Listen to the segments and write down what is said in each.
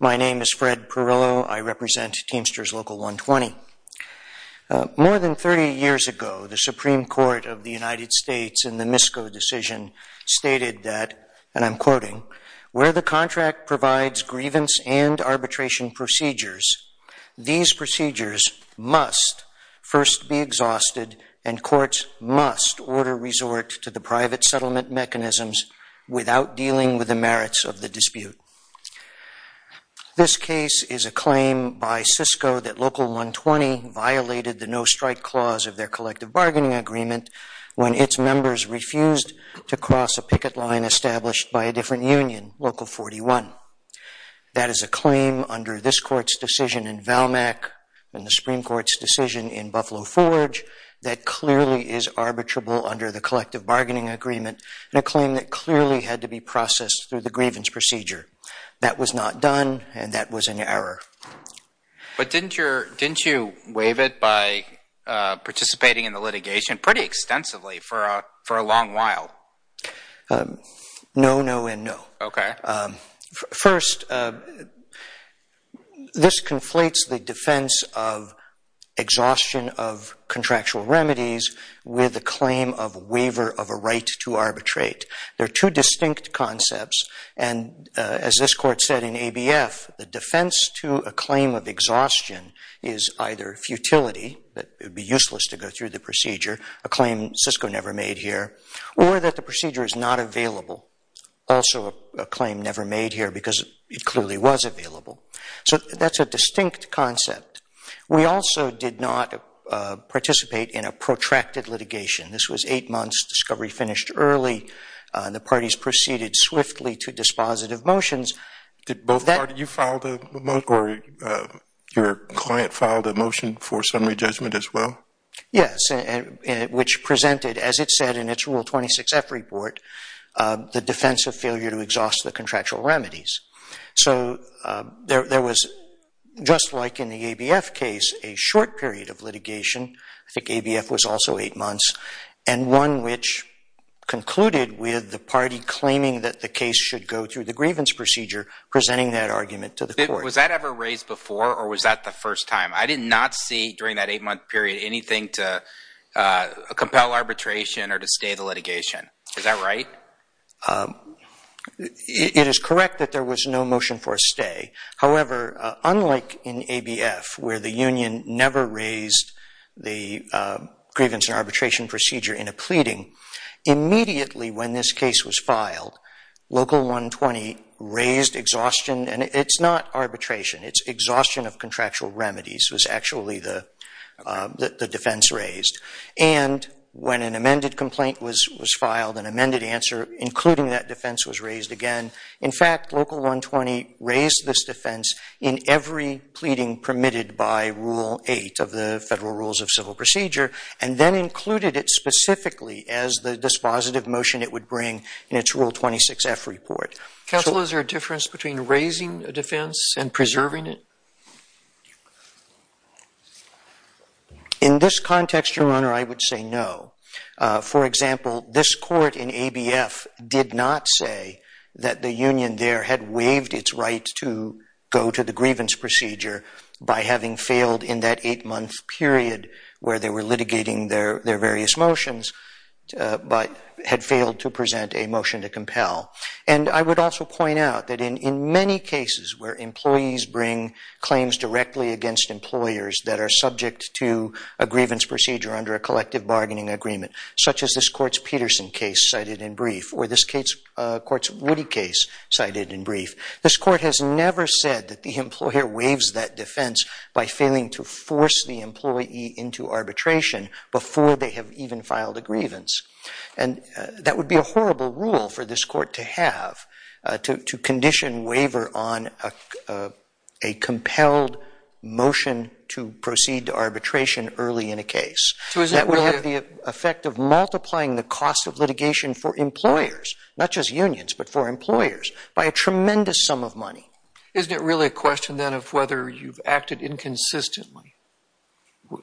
My name is Fred Perillo. I represent Teamsters Local 120. More than 30 years ago, the Supreme Court of the United States in the Misko decision stated that, and I'm quoting, where the contract provides grievance and arbitration procedures, these procedures must first be exhausted, and courts must order resort to the private settlement mechanisms without dealing with the merits of the dispute. This case is a claim by Sysco that Local 120 violated the no-strike clause of their collective bargaining agreement when its members refused to cross a picket line established by a different union, Local 41. That is a claim under this court's decision in Valmeck and the Supreme Court's decision in Buffalo Forge that clearly is arbitrable under the collective bargaining agreement, and a claim that clearly had to be processed through the grievance procedure. That was not done, and that was an error. But didn't you waive it by participating in the litigation pretty extensively for a long while? No, no, and no. Okay. First, this conflates the defense of exhaustion of contractual remedies with the claim of waiver of a right to arbitrate. They're two distinct concepts, and as this court said in ABF, the defense to a claim of exhaustion is either futility, that it would be useless to go through the procedure, a claim Sysco never made here, or that the procedure is not available, also a claim never made here because it clearly was available. So that's a distinct concept. We also did not participate in a protracted litigation. This was eight months. Discovery finished early. The parties proceeded swiftly to dispositive motions. Did both parties? You filed a motion, or your client filed a motion for summary judgment as well? Yes, which presented, as it said in its Rule 26F report, the defense of failure to exhaust the contractual remedies. So there was, just like in the ABF case, a short period of litigation. I think ABF was also eight months, and one which concluded with the party claiming that the case should go through the grievance procedure, presenting that argument to the court. Was that ever raised before, or was that the first time? I did not see during that eight-month period anything to compel arbitration or to stay the litigation. Is that right? It is correct that there was no motion for a stay. However, unlike in ABF where the union never raised the grievance and arbitration procedure in a pleading, immediately when this case was filed, Local 120 raised exhaustion. And it's not arbitration. It's exhaustion of contractual remedies was actually the defense raised. And when an amended complaint was filed, an amended answer including that defense was raised again. In fact, Local 120 raised this defense in every pleading permitted by Rule 8 of the Federal Rules of Civil Procedure and then included it specifically as the dispositive motion it would bring in its Rule 26F report. Counsel, is there a difference between raising a defense and preserving it? In this context, Your Honor, I would say no. For example, this court in ABF did not say that the union there had waived its right to go to the grievance procedure by having failed in that eight-month period where they were litigating their various motions And I would also point out that in many cases where employees bring claims directly against employers that are subject to a grievance procedure under a collective bargaining agreement, such as this court's Peterson case cited in brief or this court's Woody case cited in brief, this court has never said that the employer waives that defense by failing to force the employee into arbitration before they have even filed a grievance. And that would be a horrible rule for this court to have to condition waiver on a compelled motion to proceed to arbitration early in a case. That would have the effect of multiplying the cost of litigation for employers, not just unions but for employers, by a tremendous sum of money. Isn't it really a question then of whether you've acted inconsistently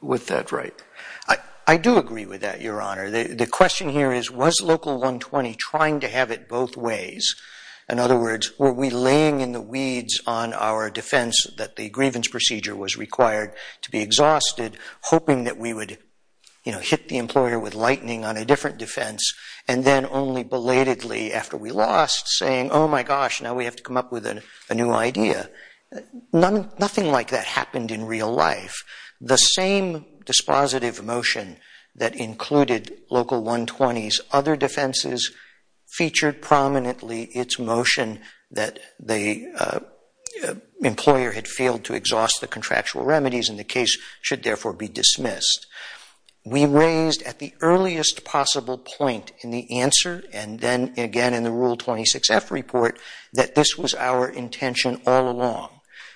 with that right? I do agree with that, Your Honor. The question here is, was Local 120 trying to have it both ways? In other words, were we laying in the weeds on our defense that the grievance procedure was required to be exhausted, hoping that we would hit the employer with lightning on a different defense and then only belatedly, after we lost, saying, oh my gosh, now we have to come up with a new idea? Nothing like that happened in real life. The same dispositive motion that included Local 120's other defenses featured prominently its motion that the employer had failed to exhaust the contractual remedies and the case should therefore be dismissed. We raised at the earliest possible point in the answer and then again in the Rule 26F report that this was our intention all along.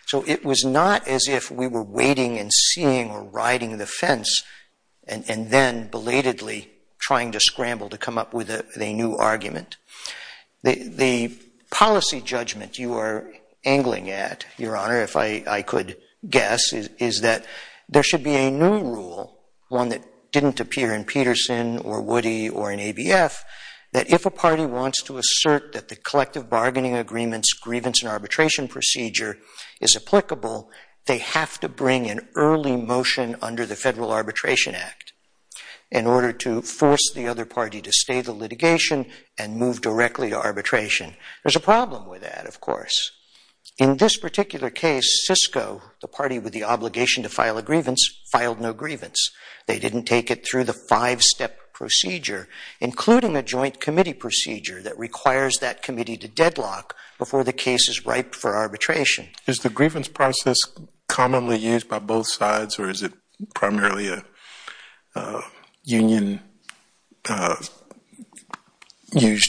So it was not as if we were waiting and seeing or riding the fence and then belatedly trying to scramble to come up with a new argument. The policy judgment you are angling at, Your Honor, if I could guess, is that there should be a new rule, one that didn't appear in Peterson or Woody or in ABF, that if a party wants to assert that the collective bargaining agreement's grievance and arbitration procedure is applicable, they have to bring an early motion under the Federal Arbitration Act in order to force the other party to stay the litigation and move directly to arbitration. There's a problem with that, of course. In this particular case, Cisco, the party with the obligation to file a grievance, filed no grievance. They didn't take it through the five-step procedure, including a joint committee procedure that requires that committee to deadlock before the case is ripe for arbitration. Is the grievance process commonly used by both sides or is it primarily a union-used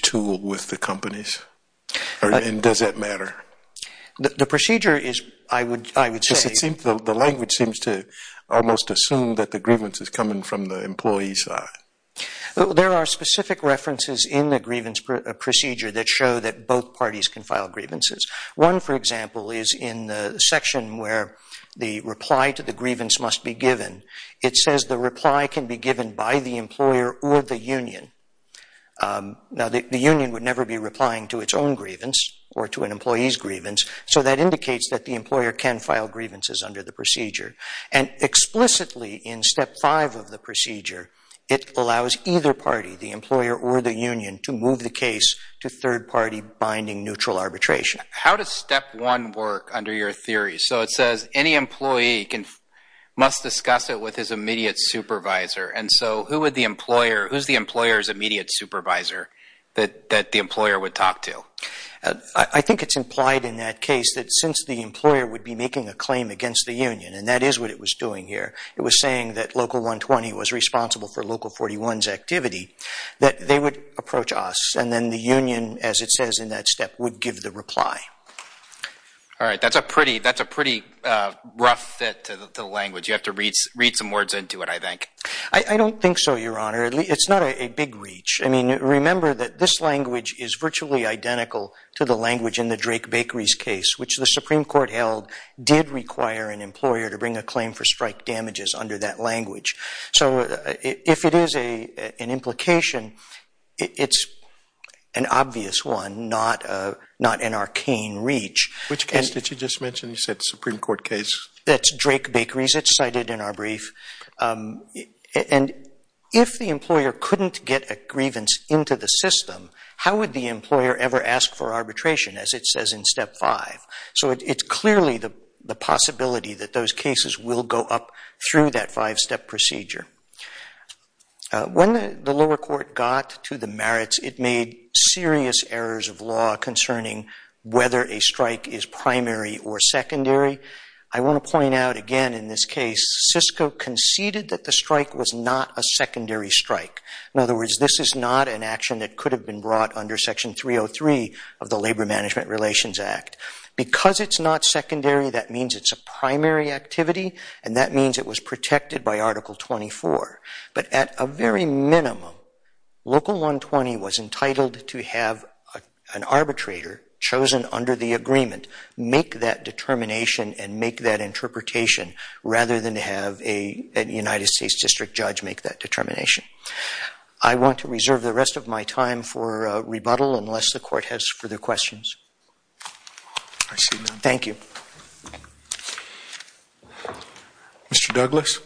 tool with the companies? And does that matter? The procedure is, I would say... The language seems to almost assume that the grievance is coming from the employee's side. There are specific references in the grievance procedure that show that both parties can file grievances. One, for example, is in the section where the reply to the grievance must be given. It says the reply can be given by the employer or the union. Now, the union would never be replying to its own grievance or to an employee's grievance, so that indicates that the employer can file grievances under the procedure. And explicitly in step five of the procedure, it allows either party, the employer or the union, to move the case to third-party binding neutral arbitration. How does step one work under your theory? So it says any employee must discuss it with his immediate supervisor, and so who is the employer's immediate supervisor that the employer would talk to? I think it's implied in that case that since the employer would be making a claim against the union, and that is what it was doing here, it was saying that Local 120 was responsible for Local 41's activity, that they would approach us, and then the union, as it says in that step, would give the reply. All right. That's a pretty rough fit to the language. You have to read some words into it, I think. I don't think so, Your Honor. It's not a big reach. I mean, remember that this language is virtually identical to the language in the Drake Bakeries case, which the Supreme Court held did require an employer to bring a claim for strike damages under that language. So if it is an implication, it's an obvious one, not an arcane reach. Which case did you just mention? You said Supreme Court case. That's Drake Bakeries. It's cited in our brief. And if the employer couldn't get a grievance into the system, how would the employer ever ask for arbitration, as it says in Step 5? So it's clearly the possibility that those cases will go up through that five-step procedure. When the lower court got to the merits, it made serious errors of law concerning whether a strike is primary or secondary. I want to point out, again, in this case, Cisco conceded that the strike was not a secondary strike. In other words, this is not an action that could have been brought under Section 303 of the Labor Management Relations Act. Because it's not secondary, that means it's a primary activity, and that means it was protected by Article 24. But at a very minimum, Local 120 was entitled to have an arbitrator chosen under the agreement make that determination and make that interpretation, rather than have a United States district judge make that determination. I want to reserve the rest of my time for rebuttal unless the Court has further questions. I see none. Thank you. Mr. Douglas?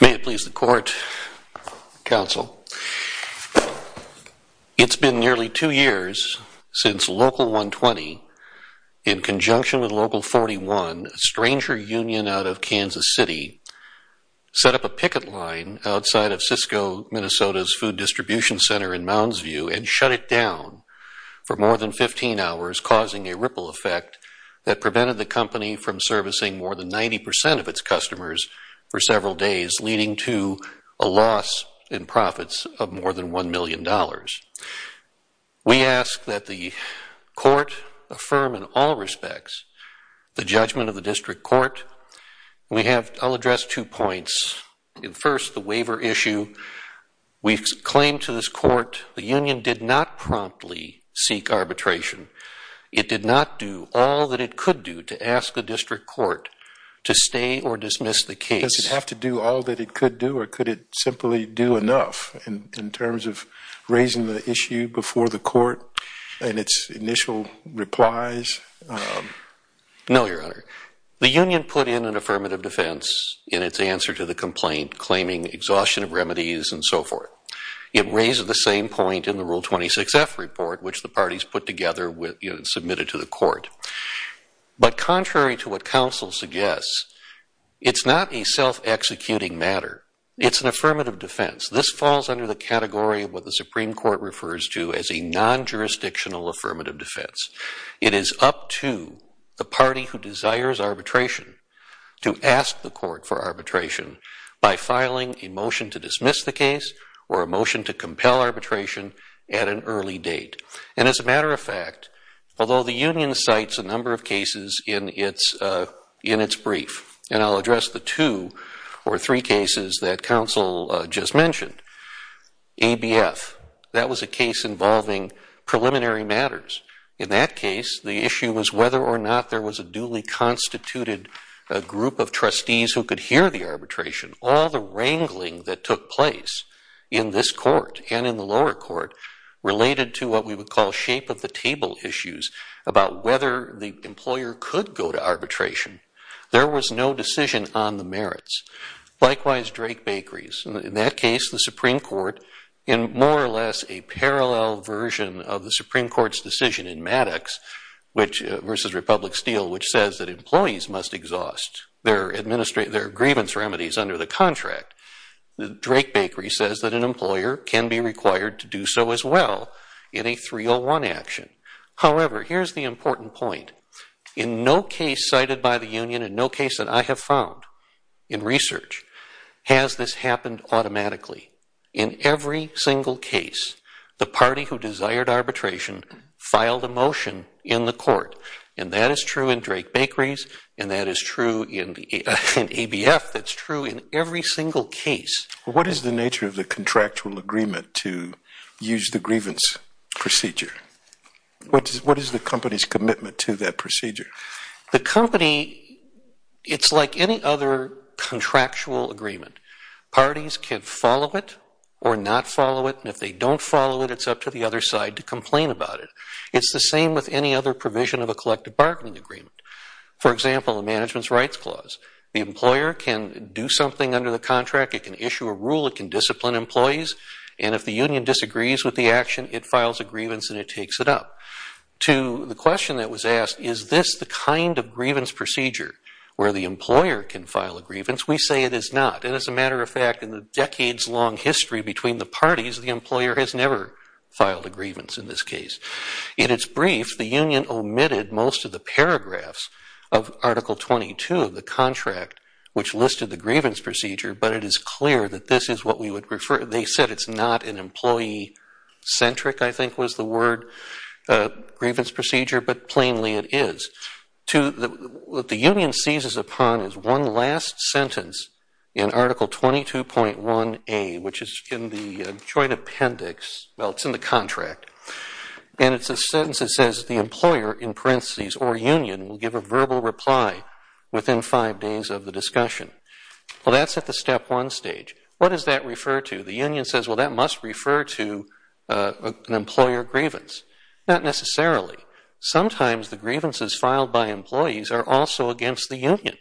May it please the Court, Counsel. It's been nearly two years since Local 120, in conjunction with Local 41, a stranger union out of Kansas City, set up a picket line outside of Cisco, Minnesota's food distribution center in Moundsview and shut it down for more than 15 hours, causing a ripple effect that prevented the company from servicing more than 90% of its customers for several days, leading to a loss in profits of more than $1 million. We ask that the Court affirm in all respects the judgment of the district court. I'll address two points. First, the waiver issue. We claim to this Court the union did not promptly seek arbitration. It did not do all that it could do to ask the district court to stay or dismiss the case. Does it have to do all that it could do, or could it simply do enough in terms of raising the issue before the Court in its initial replies? No, Your Honor. The union put in an affirmative defense in its answer to the complaint, claiming exhaustion of remedies and so forth. It raised the same point in the Rule 26F report, which the parties put together and submitted to the Court. But contrary to what counsel suggests, it's not a self-executing matter. It's an affirmative defense. This falls under the category of what the Supreme Court refers to as a non-jurisdictional affirmative defense. It is up to the party who desires arbitration to ask the Court for arbitration by filing a motion to dismiss the case or a motion to compel arbitration at an early date. And as a matter of fact, although the union cites a number of cases in its brief, and I'll address the two or three cases that counsel just mentioned, ABF, that was a case involving preliminary matters. In that case, the issue was whether or not there was a duly constituted group of trustees who could hear the arbitration. All the wrangling that took place in this Court and in the lower Court related to what we would call shape-of-the-table issues about whether the employer could go to arbitration. There was no decision on the merits. Likewise, Drake-Bakery's. In that case, the Supreme Court, in more or less a parallel version of the Supreme Court's decision in Maddox versus Republic Steel, which says that employees must exhaust their grievance remedies under the contract, Drake-Bakery says that an employer can be required to do so as well in a 301 action. However, here's the important point. In no case cited by the union and no case that I have found in research has this happened automatically. In every single case, the party who desired arbitration filed a motion in the Court. And that is true in Drake-Bakery's and that is true in ABF. That's true in every single case. What is the nature of the contractual agreement to use the grievance procedure? What is the company's commitment to that procedure? The company, it's like any other contractual agreement. Parties can follow it or not follow it. And if they don't follow it, it's up to the other side to complain about it. It's the same with any other provision of a collective bargaining agreement. For example, a management's rights clause. The employer can do something under the contract. It can issue a rule. It can discipline employees. And if the union disagrees with the action, it files a grievance and it takes it up. To the question that was asked, is this the kind of grievance procedure where the employer can file a grievance? We say it is not. And as a matter of fact, in the decades-long history between the parties, the employer has never filed a grievance in this case. In its brief, the union omitted most of the paragraphs of Article 22 of the contract, which listed the grievance procedure, but it is clear that this is what we would refer to. They said it's not an employee-centric, I think was the word, grievance procedure, but plainly it is. What the union seizes upon is one last sentence in Article 22.1A, which is in the joint appendix. Well, it's in the contract. And it's a sentence that says, the employer, in parentheses, or union, will give a verbal reply within five days of the discussion. Well, that's at the step one stage. What does that refer to? The union says, well, that must refer to an employer grievance. Not necessarily. Sometimes the grievances filed by employees are also against the union.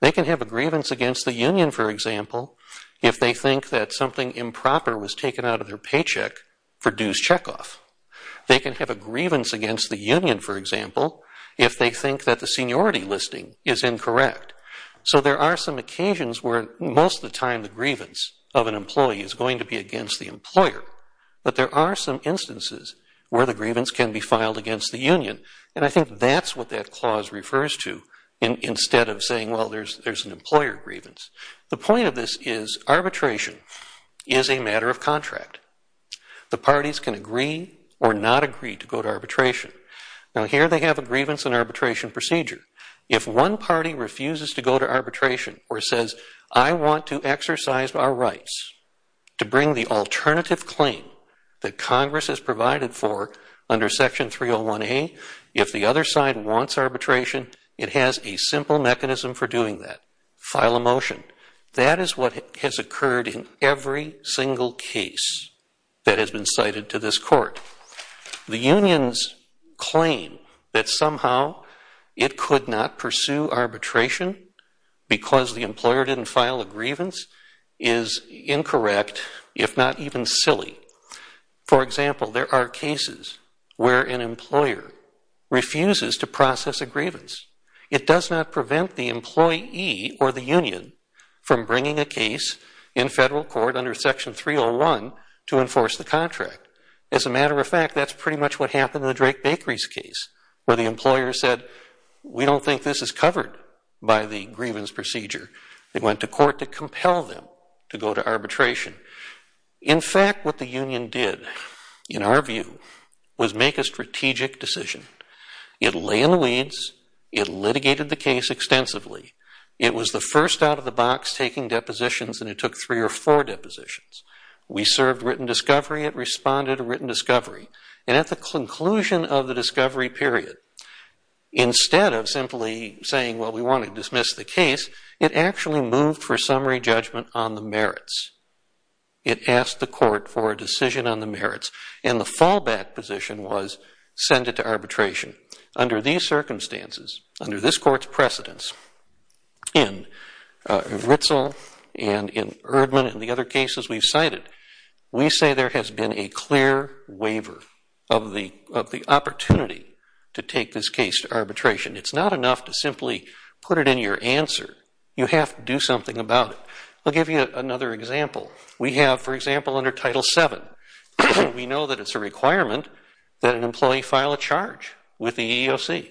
They can have a grievance against the union, for example, if they think that something improper was taken out of their paycheck for dues checkoff. They can have a grievance against the union, for example, if they think that the seniority listing is incorrect. So there are some occasions where most of the time the grievance of an employee is going to be against the employer, but there are some instances where the grievance can be filed against the union, and I think that's what that clause refers to, instead of saying, well, there's an employer grievance. The point of this is arbitration is a matter of contract. The parties can agree or not agree to go to arbitration. Now, here they have a grievance and arbitration procedure. If one party refuses to go to arbitration or says, I want to exercise our rights to bring the alternative claim that Congress has provided for under Section 301A, if the other side wants arbitration, it has a simple mechanism for doing that, file a motion. That is what has occurred in every single case that has been cited to this court. The unions claim that somehow it could not pursue arbitration because the employer didn't file a grievance is incorrect, if not even silly. For example, there are cases where an employer refuses to process a grievance. It does not prevent the employee or the union from bringing a case in federal court under Section 301 to enforce the contract. As a matter of fact, that's pretty much what happened in the Drake Bakery's case, where the employer said, we don't think this is covered by the grievance procedure. They went to court to compel them to go to arbitration. In fact, what the union did, in our view, was make a strategic decision. It lay in the weeds. It litigated the case extensively. It was the first out of the box taking depositions, and it took three or four depositions. We served written discovery. It responded to written discovery. And at the conclusion of the discovery period, instead of simply saying, well, we want to dismiss the case, it actually moved for summary judgment on the merits. It asked the court for a decision on the merits, and the fallback position was send it to arbitration. Under these circumstances, under this court's precedence in Ritzle and in Erdman and the other cases we've cited, we say there has been a clear waiver of the opportunity to take this case to arbitration. It's not enough to simply put it in your answer. You have to do something about it. I'll give you another example. We have, for example, under Title VII, we know that it's a requirement that an employee file a charge with the EEOC.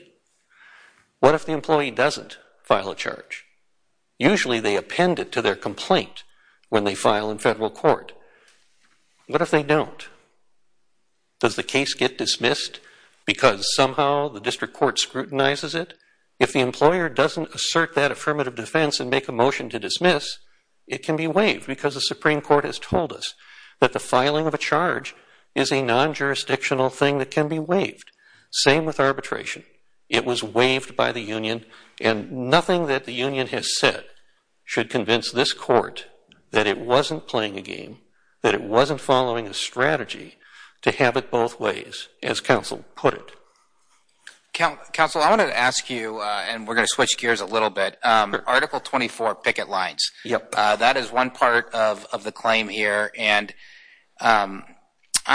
What if the employee doesn't file a charge? Usually they append it to their complaint when they file in federal court. What if they don't? Does the case get dismissed because somehow the district court scrutinizes it? If the employer doesn't assert that affirmative defense and make a motion to dismiss, it can be waived because the Supreme Court has told us that the same with arbitration. It was waived by the union, and nothing that the union has said should convince this court that it wasn't playing a game, that it wasn't following a strategy to have it both ways, as counsel put it. Counsel, I wanted to ask you, and we're going to switch gears a little bit, Article 24 picket lines. That is one part of the claim here, and I'm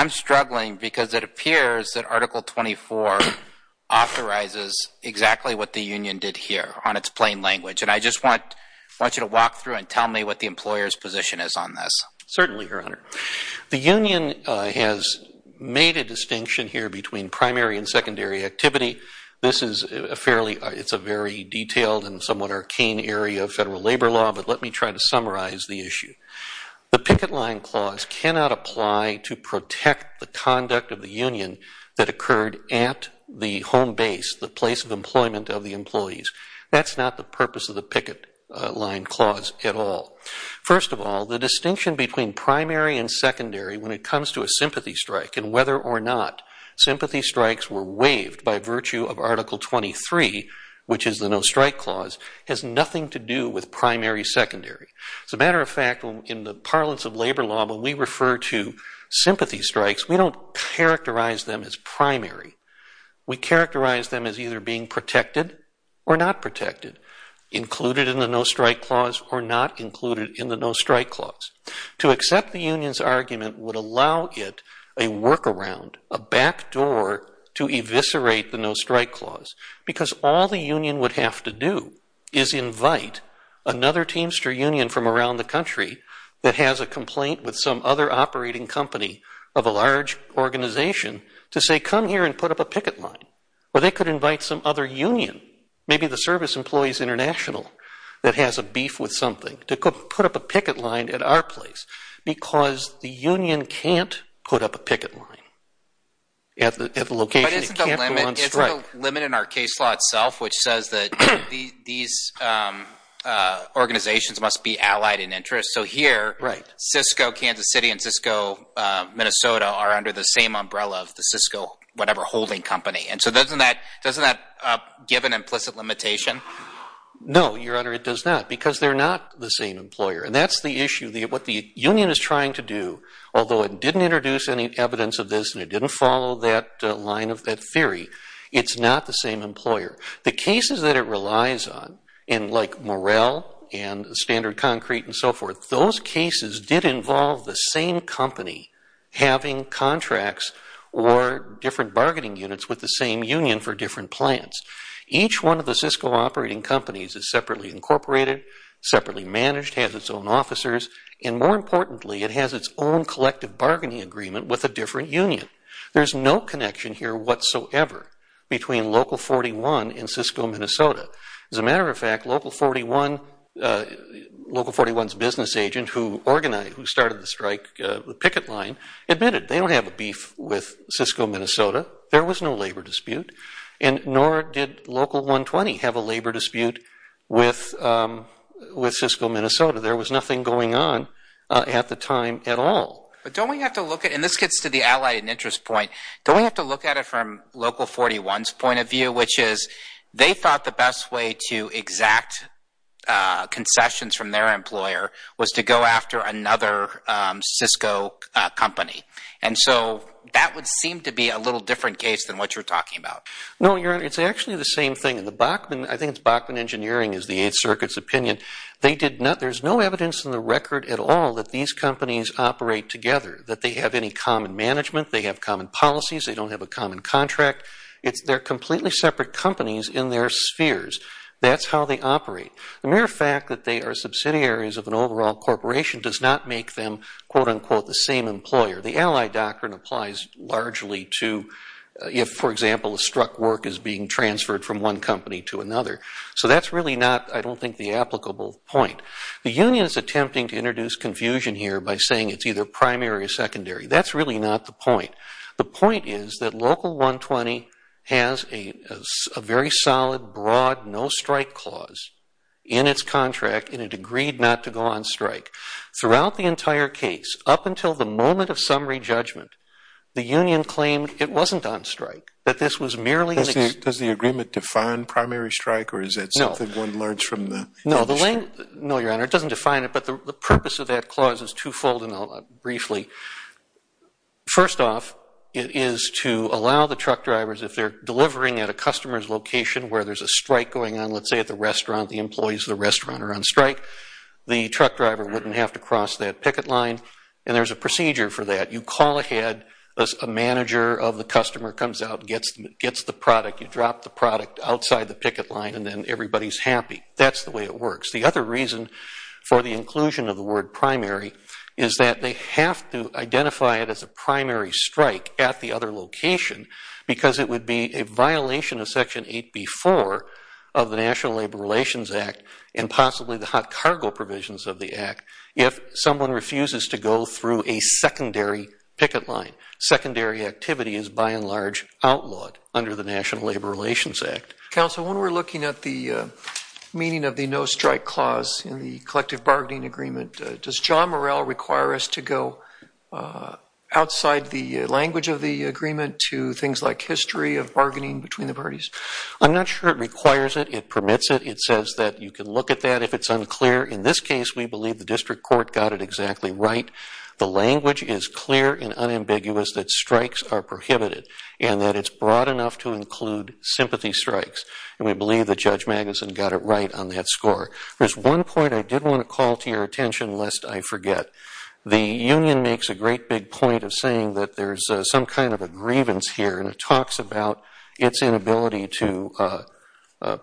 struggling because it appears that Article 24 authorizes exactly what the union did here on its plain language. And I just want you to walk through and tell me what the employer's position is on this. Certainly, Your Honor. The union has made a distinction here between primary and secondary activity. This is a fairly, it's a very detailed and somewhat arcane area of federal labor law, but let me try to summarize the issue. The picket line clause cannot apply to protect the conduct of the union that occurred at the home base, the place of employment of the employees. That's not the purpose of the picket line clause at all. First of all, the distinction between primary and secondary when it comes to a sympathy strike and whether or not sympathy strikes were waived by virtue of Article 23, which is the no strike clause, has nothing to do with primary secondary. As a matter of fact, in the parlance of labor law, when we refer to sympathy strikes, we don't characterize them as primary. We characterize them as either being protected or not protected, included in the no strike clause or not included in the no strike clause. To accept the union's argument would allow it a workaround, a back door to eviscerate the no strike clause because all the union would have to do is invite another teamster union from around the country that has a complaint with some other operating company of a large organization to say, come here and put up a picket line. Or they could invite some other union, maybe the Service Employees International that has a beef with something, to put up a picket line at our place because the union can't put up a picket line at the location. It can't go on strike. But isn't the limit in our case law itself which says that these organizations must be allied in interest? So here, Cisco Kansas City and Cisco Minnesota are under the same umbrella of the Cisco whatever holding company. And so doesn't that give an implicit limitation? No, Your Honor, it does not because they're not the same employer. And that's the issue. What the union is trying to do, although it didn't introduce any evidence of this and it didn't follow that line of that theory, it's not the same employer. The cases that it relies on, like Morrell and Standard Concrete and so forth, those cases did involve the same company having contracts or different bargaining units with the same union for different plans. Each one of the Cisco operating companies is separately incorporated, separately managed, has its own officers, and more importantly, it has its own collective bargaining agreement with a different union. There's no connection here whatsoever between Local 41 and Cisco Minnesota. As a matter of fact, Local 41's business agent who started the strike, the picket line, admitted they don't have a beef with Cisco Minnesota. There was no labor dispute and nor did Local 120 have a labor dispute with Cisco Minnesota. There was nothing going on at the time at all. But don't we have to look at, and this gets to the allied interest point, don't we have to look at it from Local 41's point of view, which is they thought the best way to exact concessions from their employer was to go after another Cisco company. And so that would seem to be a little different case than what you're talking about. No, it's actually the same thing. I think it's Bachman Engineering is the Eighth Circuit's opinion. There's no evidence in the record at all that these companies operate together, that they have any common management, they have common policies, they don't have a common contract. They're completely separate companies in their spheres. That's how they operate. The mere fact that they are subsidiaries of an overall corporation does not make them, quote, unquote, the same employer. The allied doctrine applies largely to if, for example, a struck work is being transferred from one company to another. So that's really not, I don't think, the applicable point. The union is attempting to introduce confusion here by saying it's either primary or secondary. That's really not the point. The point is that Local 120 has a very solid, broad, no-strike clause in its contract, and it agreed not to go on strike. Throughout the entire case, up until the moment of summary judgment, the union claimed it wasn't on strike, that this was merely an... Or is that something one learns from the... No, Your Honor, it doesn't define it, but the purpose of that clause is twofold, and I'll briefly... First off, it is to allow the truck drivers, if they're delivering at a customer's location where there's a strike going on, let's say at the restaurant, the employees of the restaurant are on strike, the truck driver wouldn't have to cross that picket line, and there's a procedure for that. You call ahead, a manager of the customer comes out and gets the product. You drop the product outside the picket line, and then everybody's happy. That's the way it works. The other reason for the inclusion of the word primary is that they have to identify it as a primary strike at the other location because it would be a violation of Section 8b-4 of the National Labor Relations Act and possibly the hot cargo provisions of the Act if someone refuses to go through a secondary picket line. Secondary activity is by and large outlawed under the National Labor Relations Act. Counsel, when we're looking at the meaning of the no-strike clause in the collective bargaining agreement, does John Morrell require us to go outside the language of the agreement to things like history of bargaining between the parties? I'm not sure it requires it. It permits it. It says that you can look at that if it's unclear. In this case, we believe the district court got it exactly right. The language is clear and unambiguous that strikes are prohibited and that it's broad enough to include sympathy strikes, and we believe that Judge Magnuson got it right on that score. There's one point I did want to call to your attention lest I forget. The union makes a great big point of saying that there's some kind of a grievance here, and it talks about its inability to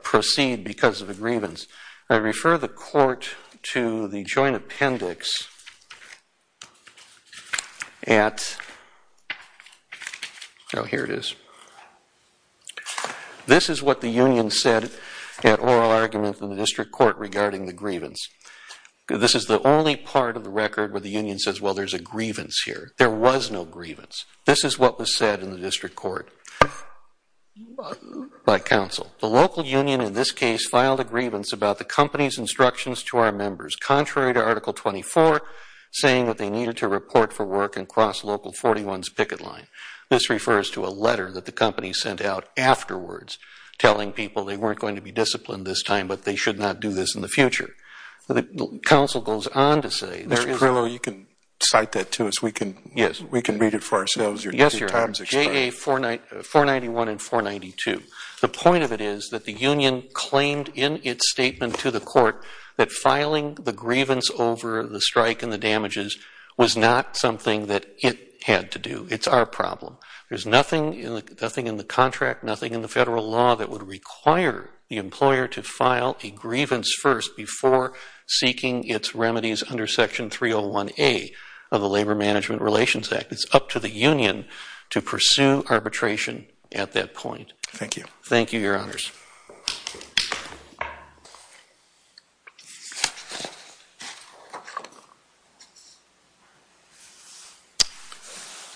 proceed because of a grievance. I refer the court to the joint appendix atóhere it is. This is what the union said at oral argument in the district court regarding the grievance. This is the only part of the record where the union says, well, there's a grievance here. There was no grievance. This is what was said in the district court by counsel. The local union in this case filed a grievance about the company's instructions to our members, contrary to Article 24 saying that they needed to report for work and cross local 41's picket line. This refers to a letter that the company sent out afterwards telling people they weren't going to be disciplined this time, but they should not do this in the future. The counsel goes on to sayó Mr. Perillo, you can cite that to us. We can read it for ourselves. Yes, Your Honor. JA 491 and 492. The point of it is that the union claimed in its statement to the court that filing the grievance over the strike and the damages was not something that it had to do. It's our problem. There's nothing in the contract, nothing in the federal law that would require the employer to file a grievance first before seeking its remedies under Section 301A of the Labor Management Relations Act. It's up to the union to pursue arbitration at that point. Thank you. Thank you, Your Honors.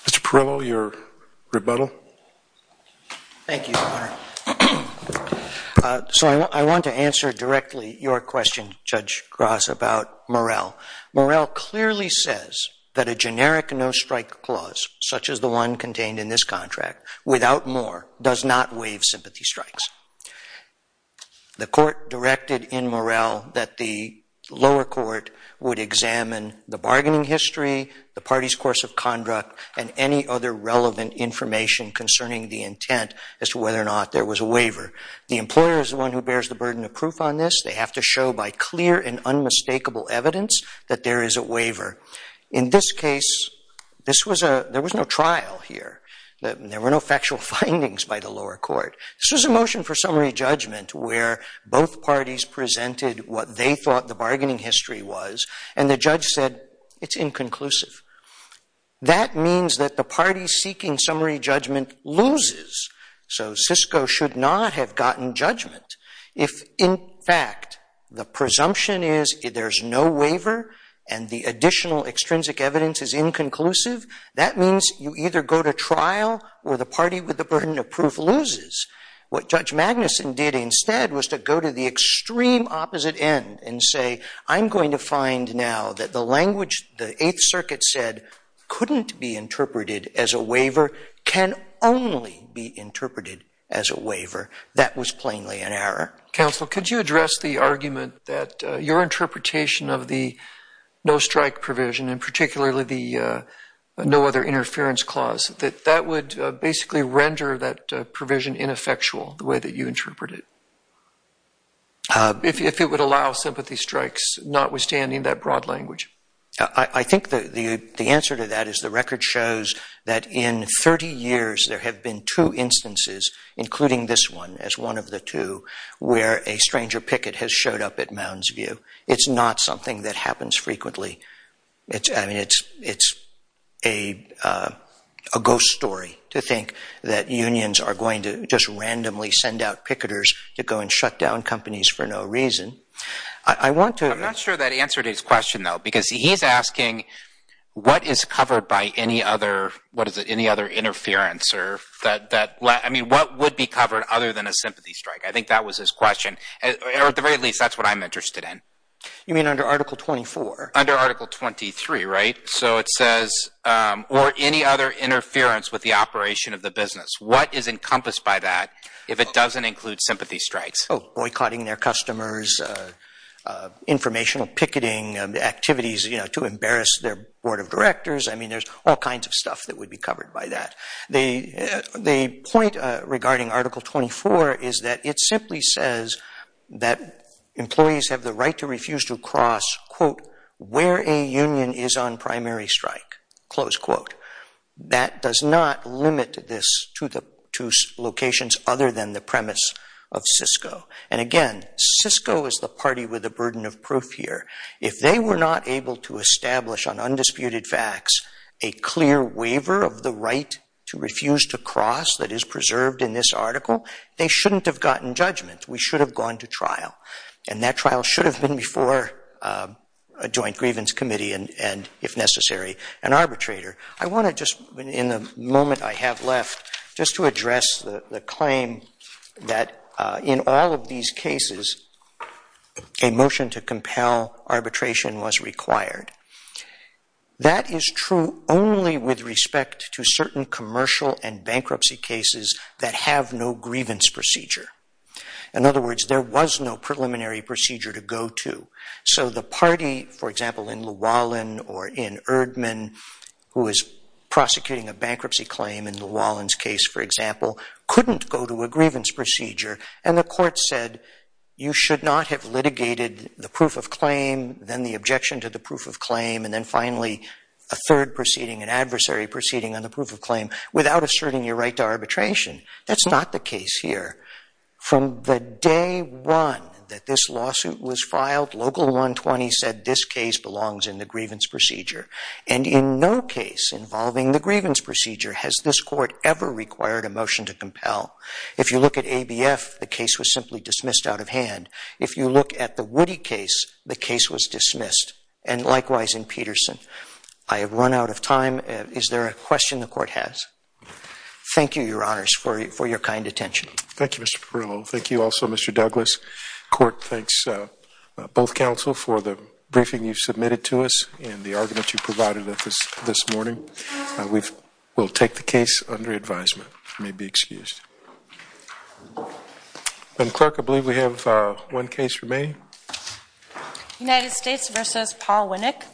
Mr. Perillo, your rebuttal. Thank you, Your Honor. So I want to answer directly your question, Judge Gross, about Morrell. Morrell clearly says that a generic no-strike clause, such as the one contained in this contract, without more, does not waive sympathy strikes. The court directed in Morrell that the lower court would examine the bargaining history, the party's course of conduct, and any other relevant information concerning the intent as to whether or not there was a waiver. The employer is the one who bears the burden of proof on this. They have to show by clear and unmistakable evidence that there is a waiver. In this case, there was no trial here. There were no factual findings by the lower court. This was a motion for summary judgment where both parties presented what they thought the bargaining history was, and the judge said, it's inconclusive. That means that the party seeking summary judgment loses, so Cisco should not have gotten judgment. If, in fact, the presumption is there's no waiver and the additional extrinsic evidence is inconclusive, that means you either go to trial or the party with the burden of proof loses. What Judge Magnuson did instead was to go to the extreme opposite end and say, I'm going to find now that the language the Eighth Circuit said couldn't be interpreted as a waiver can only be interpreted as a waiver. That was plainly an error. Counsel, could you address the argument that your interpretation of the no-strike provision, and particularly the no other interference clause, that that would basically render that provision ineffectual, the way that you interpret it, if it would allow sympathy strikes notwithstanding that broad language? I think the answer to that is the record shows that in 30 years there have been two instances, including this one as one of the two, where a stranger picket has showed up at Mounds View. It's not something that happens frequently. I mean, it's a ghost story to think that unions are going to just randomly send out picketers to go and shut down companies for no reason. I'm not sure that answered his question, though, because he's asking, what is covered by any other interference? I mean, what would be covered other than a sympathy strike? I think that was his question. Or at the very least, that's what I'm interested in. You mean under Article 24? Under Article 23, right? So it says, or any other interference with the operation of the business. What is encompassed by that if it doesn't include sympathy strikes? Boycotting their customers, informational picketing activities to embarrass their board of directors. I mean, there's all kinds of stuff that would be covered by that. The point regarding Article 24 is that it simply says that employees have the right to refuse to cross where a union is on primary strike. That does not limit this to locations other than the premise of CISCO. And again, CISCO is the party with the burden of proof here. If they were not able to establish on undisputed facts a clear waiver of the right to refuse to cross that is preserved in this article, they shouldn't have gotten judgment. We should have gone to trial. And that trial should have been before a joint grievance committee, if necessary. An arbitrator. I want to just, in the moment I have left, just to address the claim that in all of these cases a motion to compel arbitration was required. That is true only with respect to certain commercial and bankruptcy cases that have no grievance procedure. In other words, there was no preliminary procedure to go to. So the party, for example, in Llewellyn or in Erdmann, who was prosecuting a bankruptcy claim in Llewellyn's case, for example, couldn't go to a grievance procedure. And the court said, you should not have litigated the proof of claim, then the objection to the proof of claim, and then finally a third proceeding, an adversary proceeding on the proof of claim, without asserting your right to arbitration. That's not the case here. From the day one that this lawsuit was filed, Local 120 said this case belongs in the grievance procedure. And in no case involving the grievance procedure has this court ever required a motion to compel. If you look at ABF, the case was simply dismissed out of hand. If you look at the Woody case, the case was dismissed. And likewise in Peterson. I have run out of time. Is there a question the court has? Thank you, Your Honors, for your kind attention. Thank you, Mr. Perrillo. Thank you also, Mr. Douglas. Court thanks both counsel for the briefing you've submitted to us and the argument you provided this morning. We will take the case under advisement. You may be excused. And, Clerk, I believe we have one case remaining. United States v. Paul Winnick. Thank you.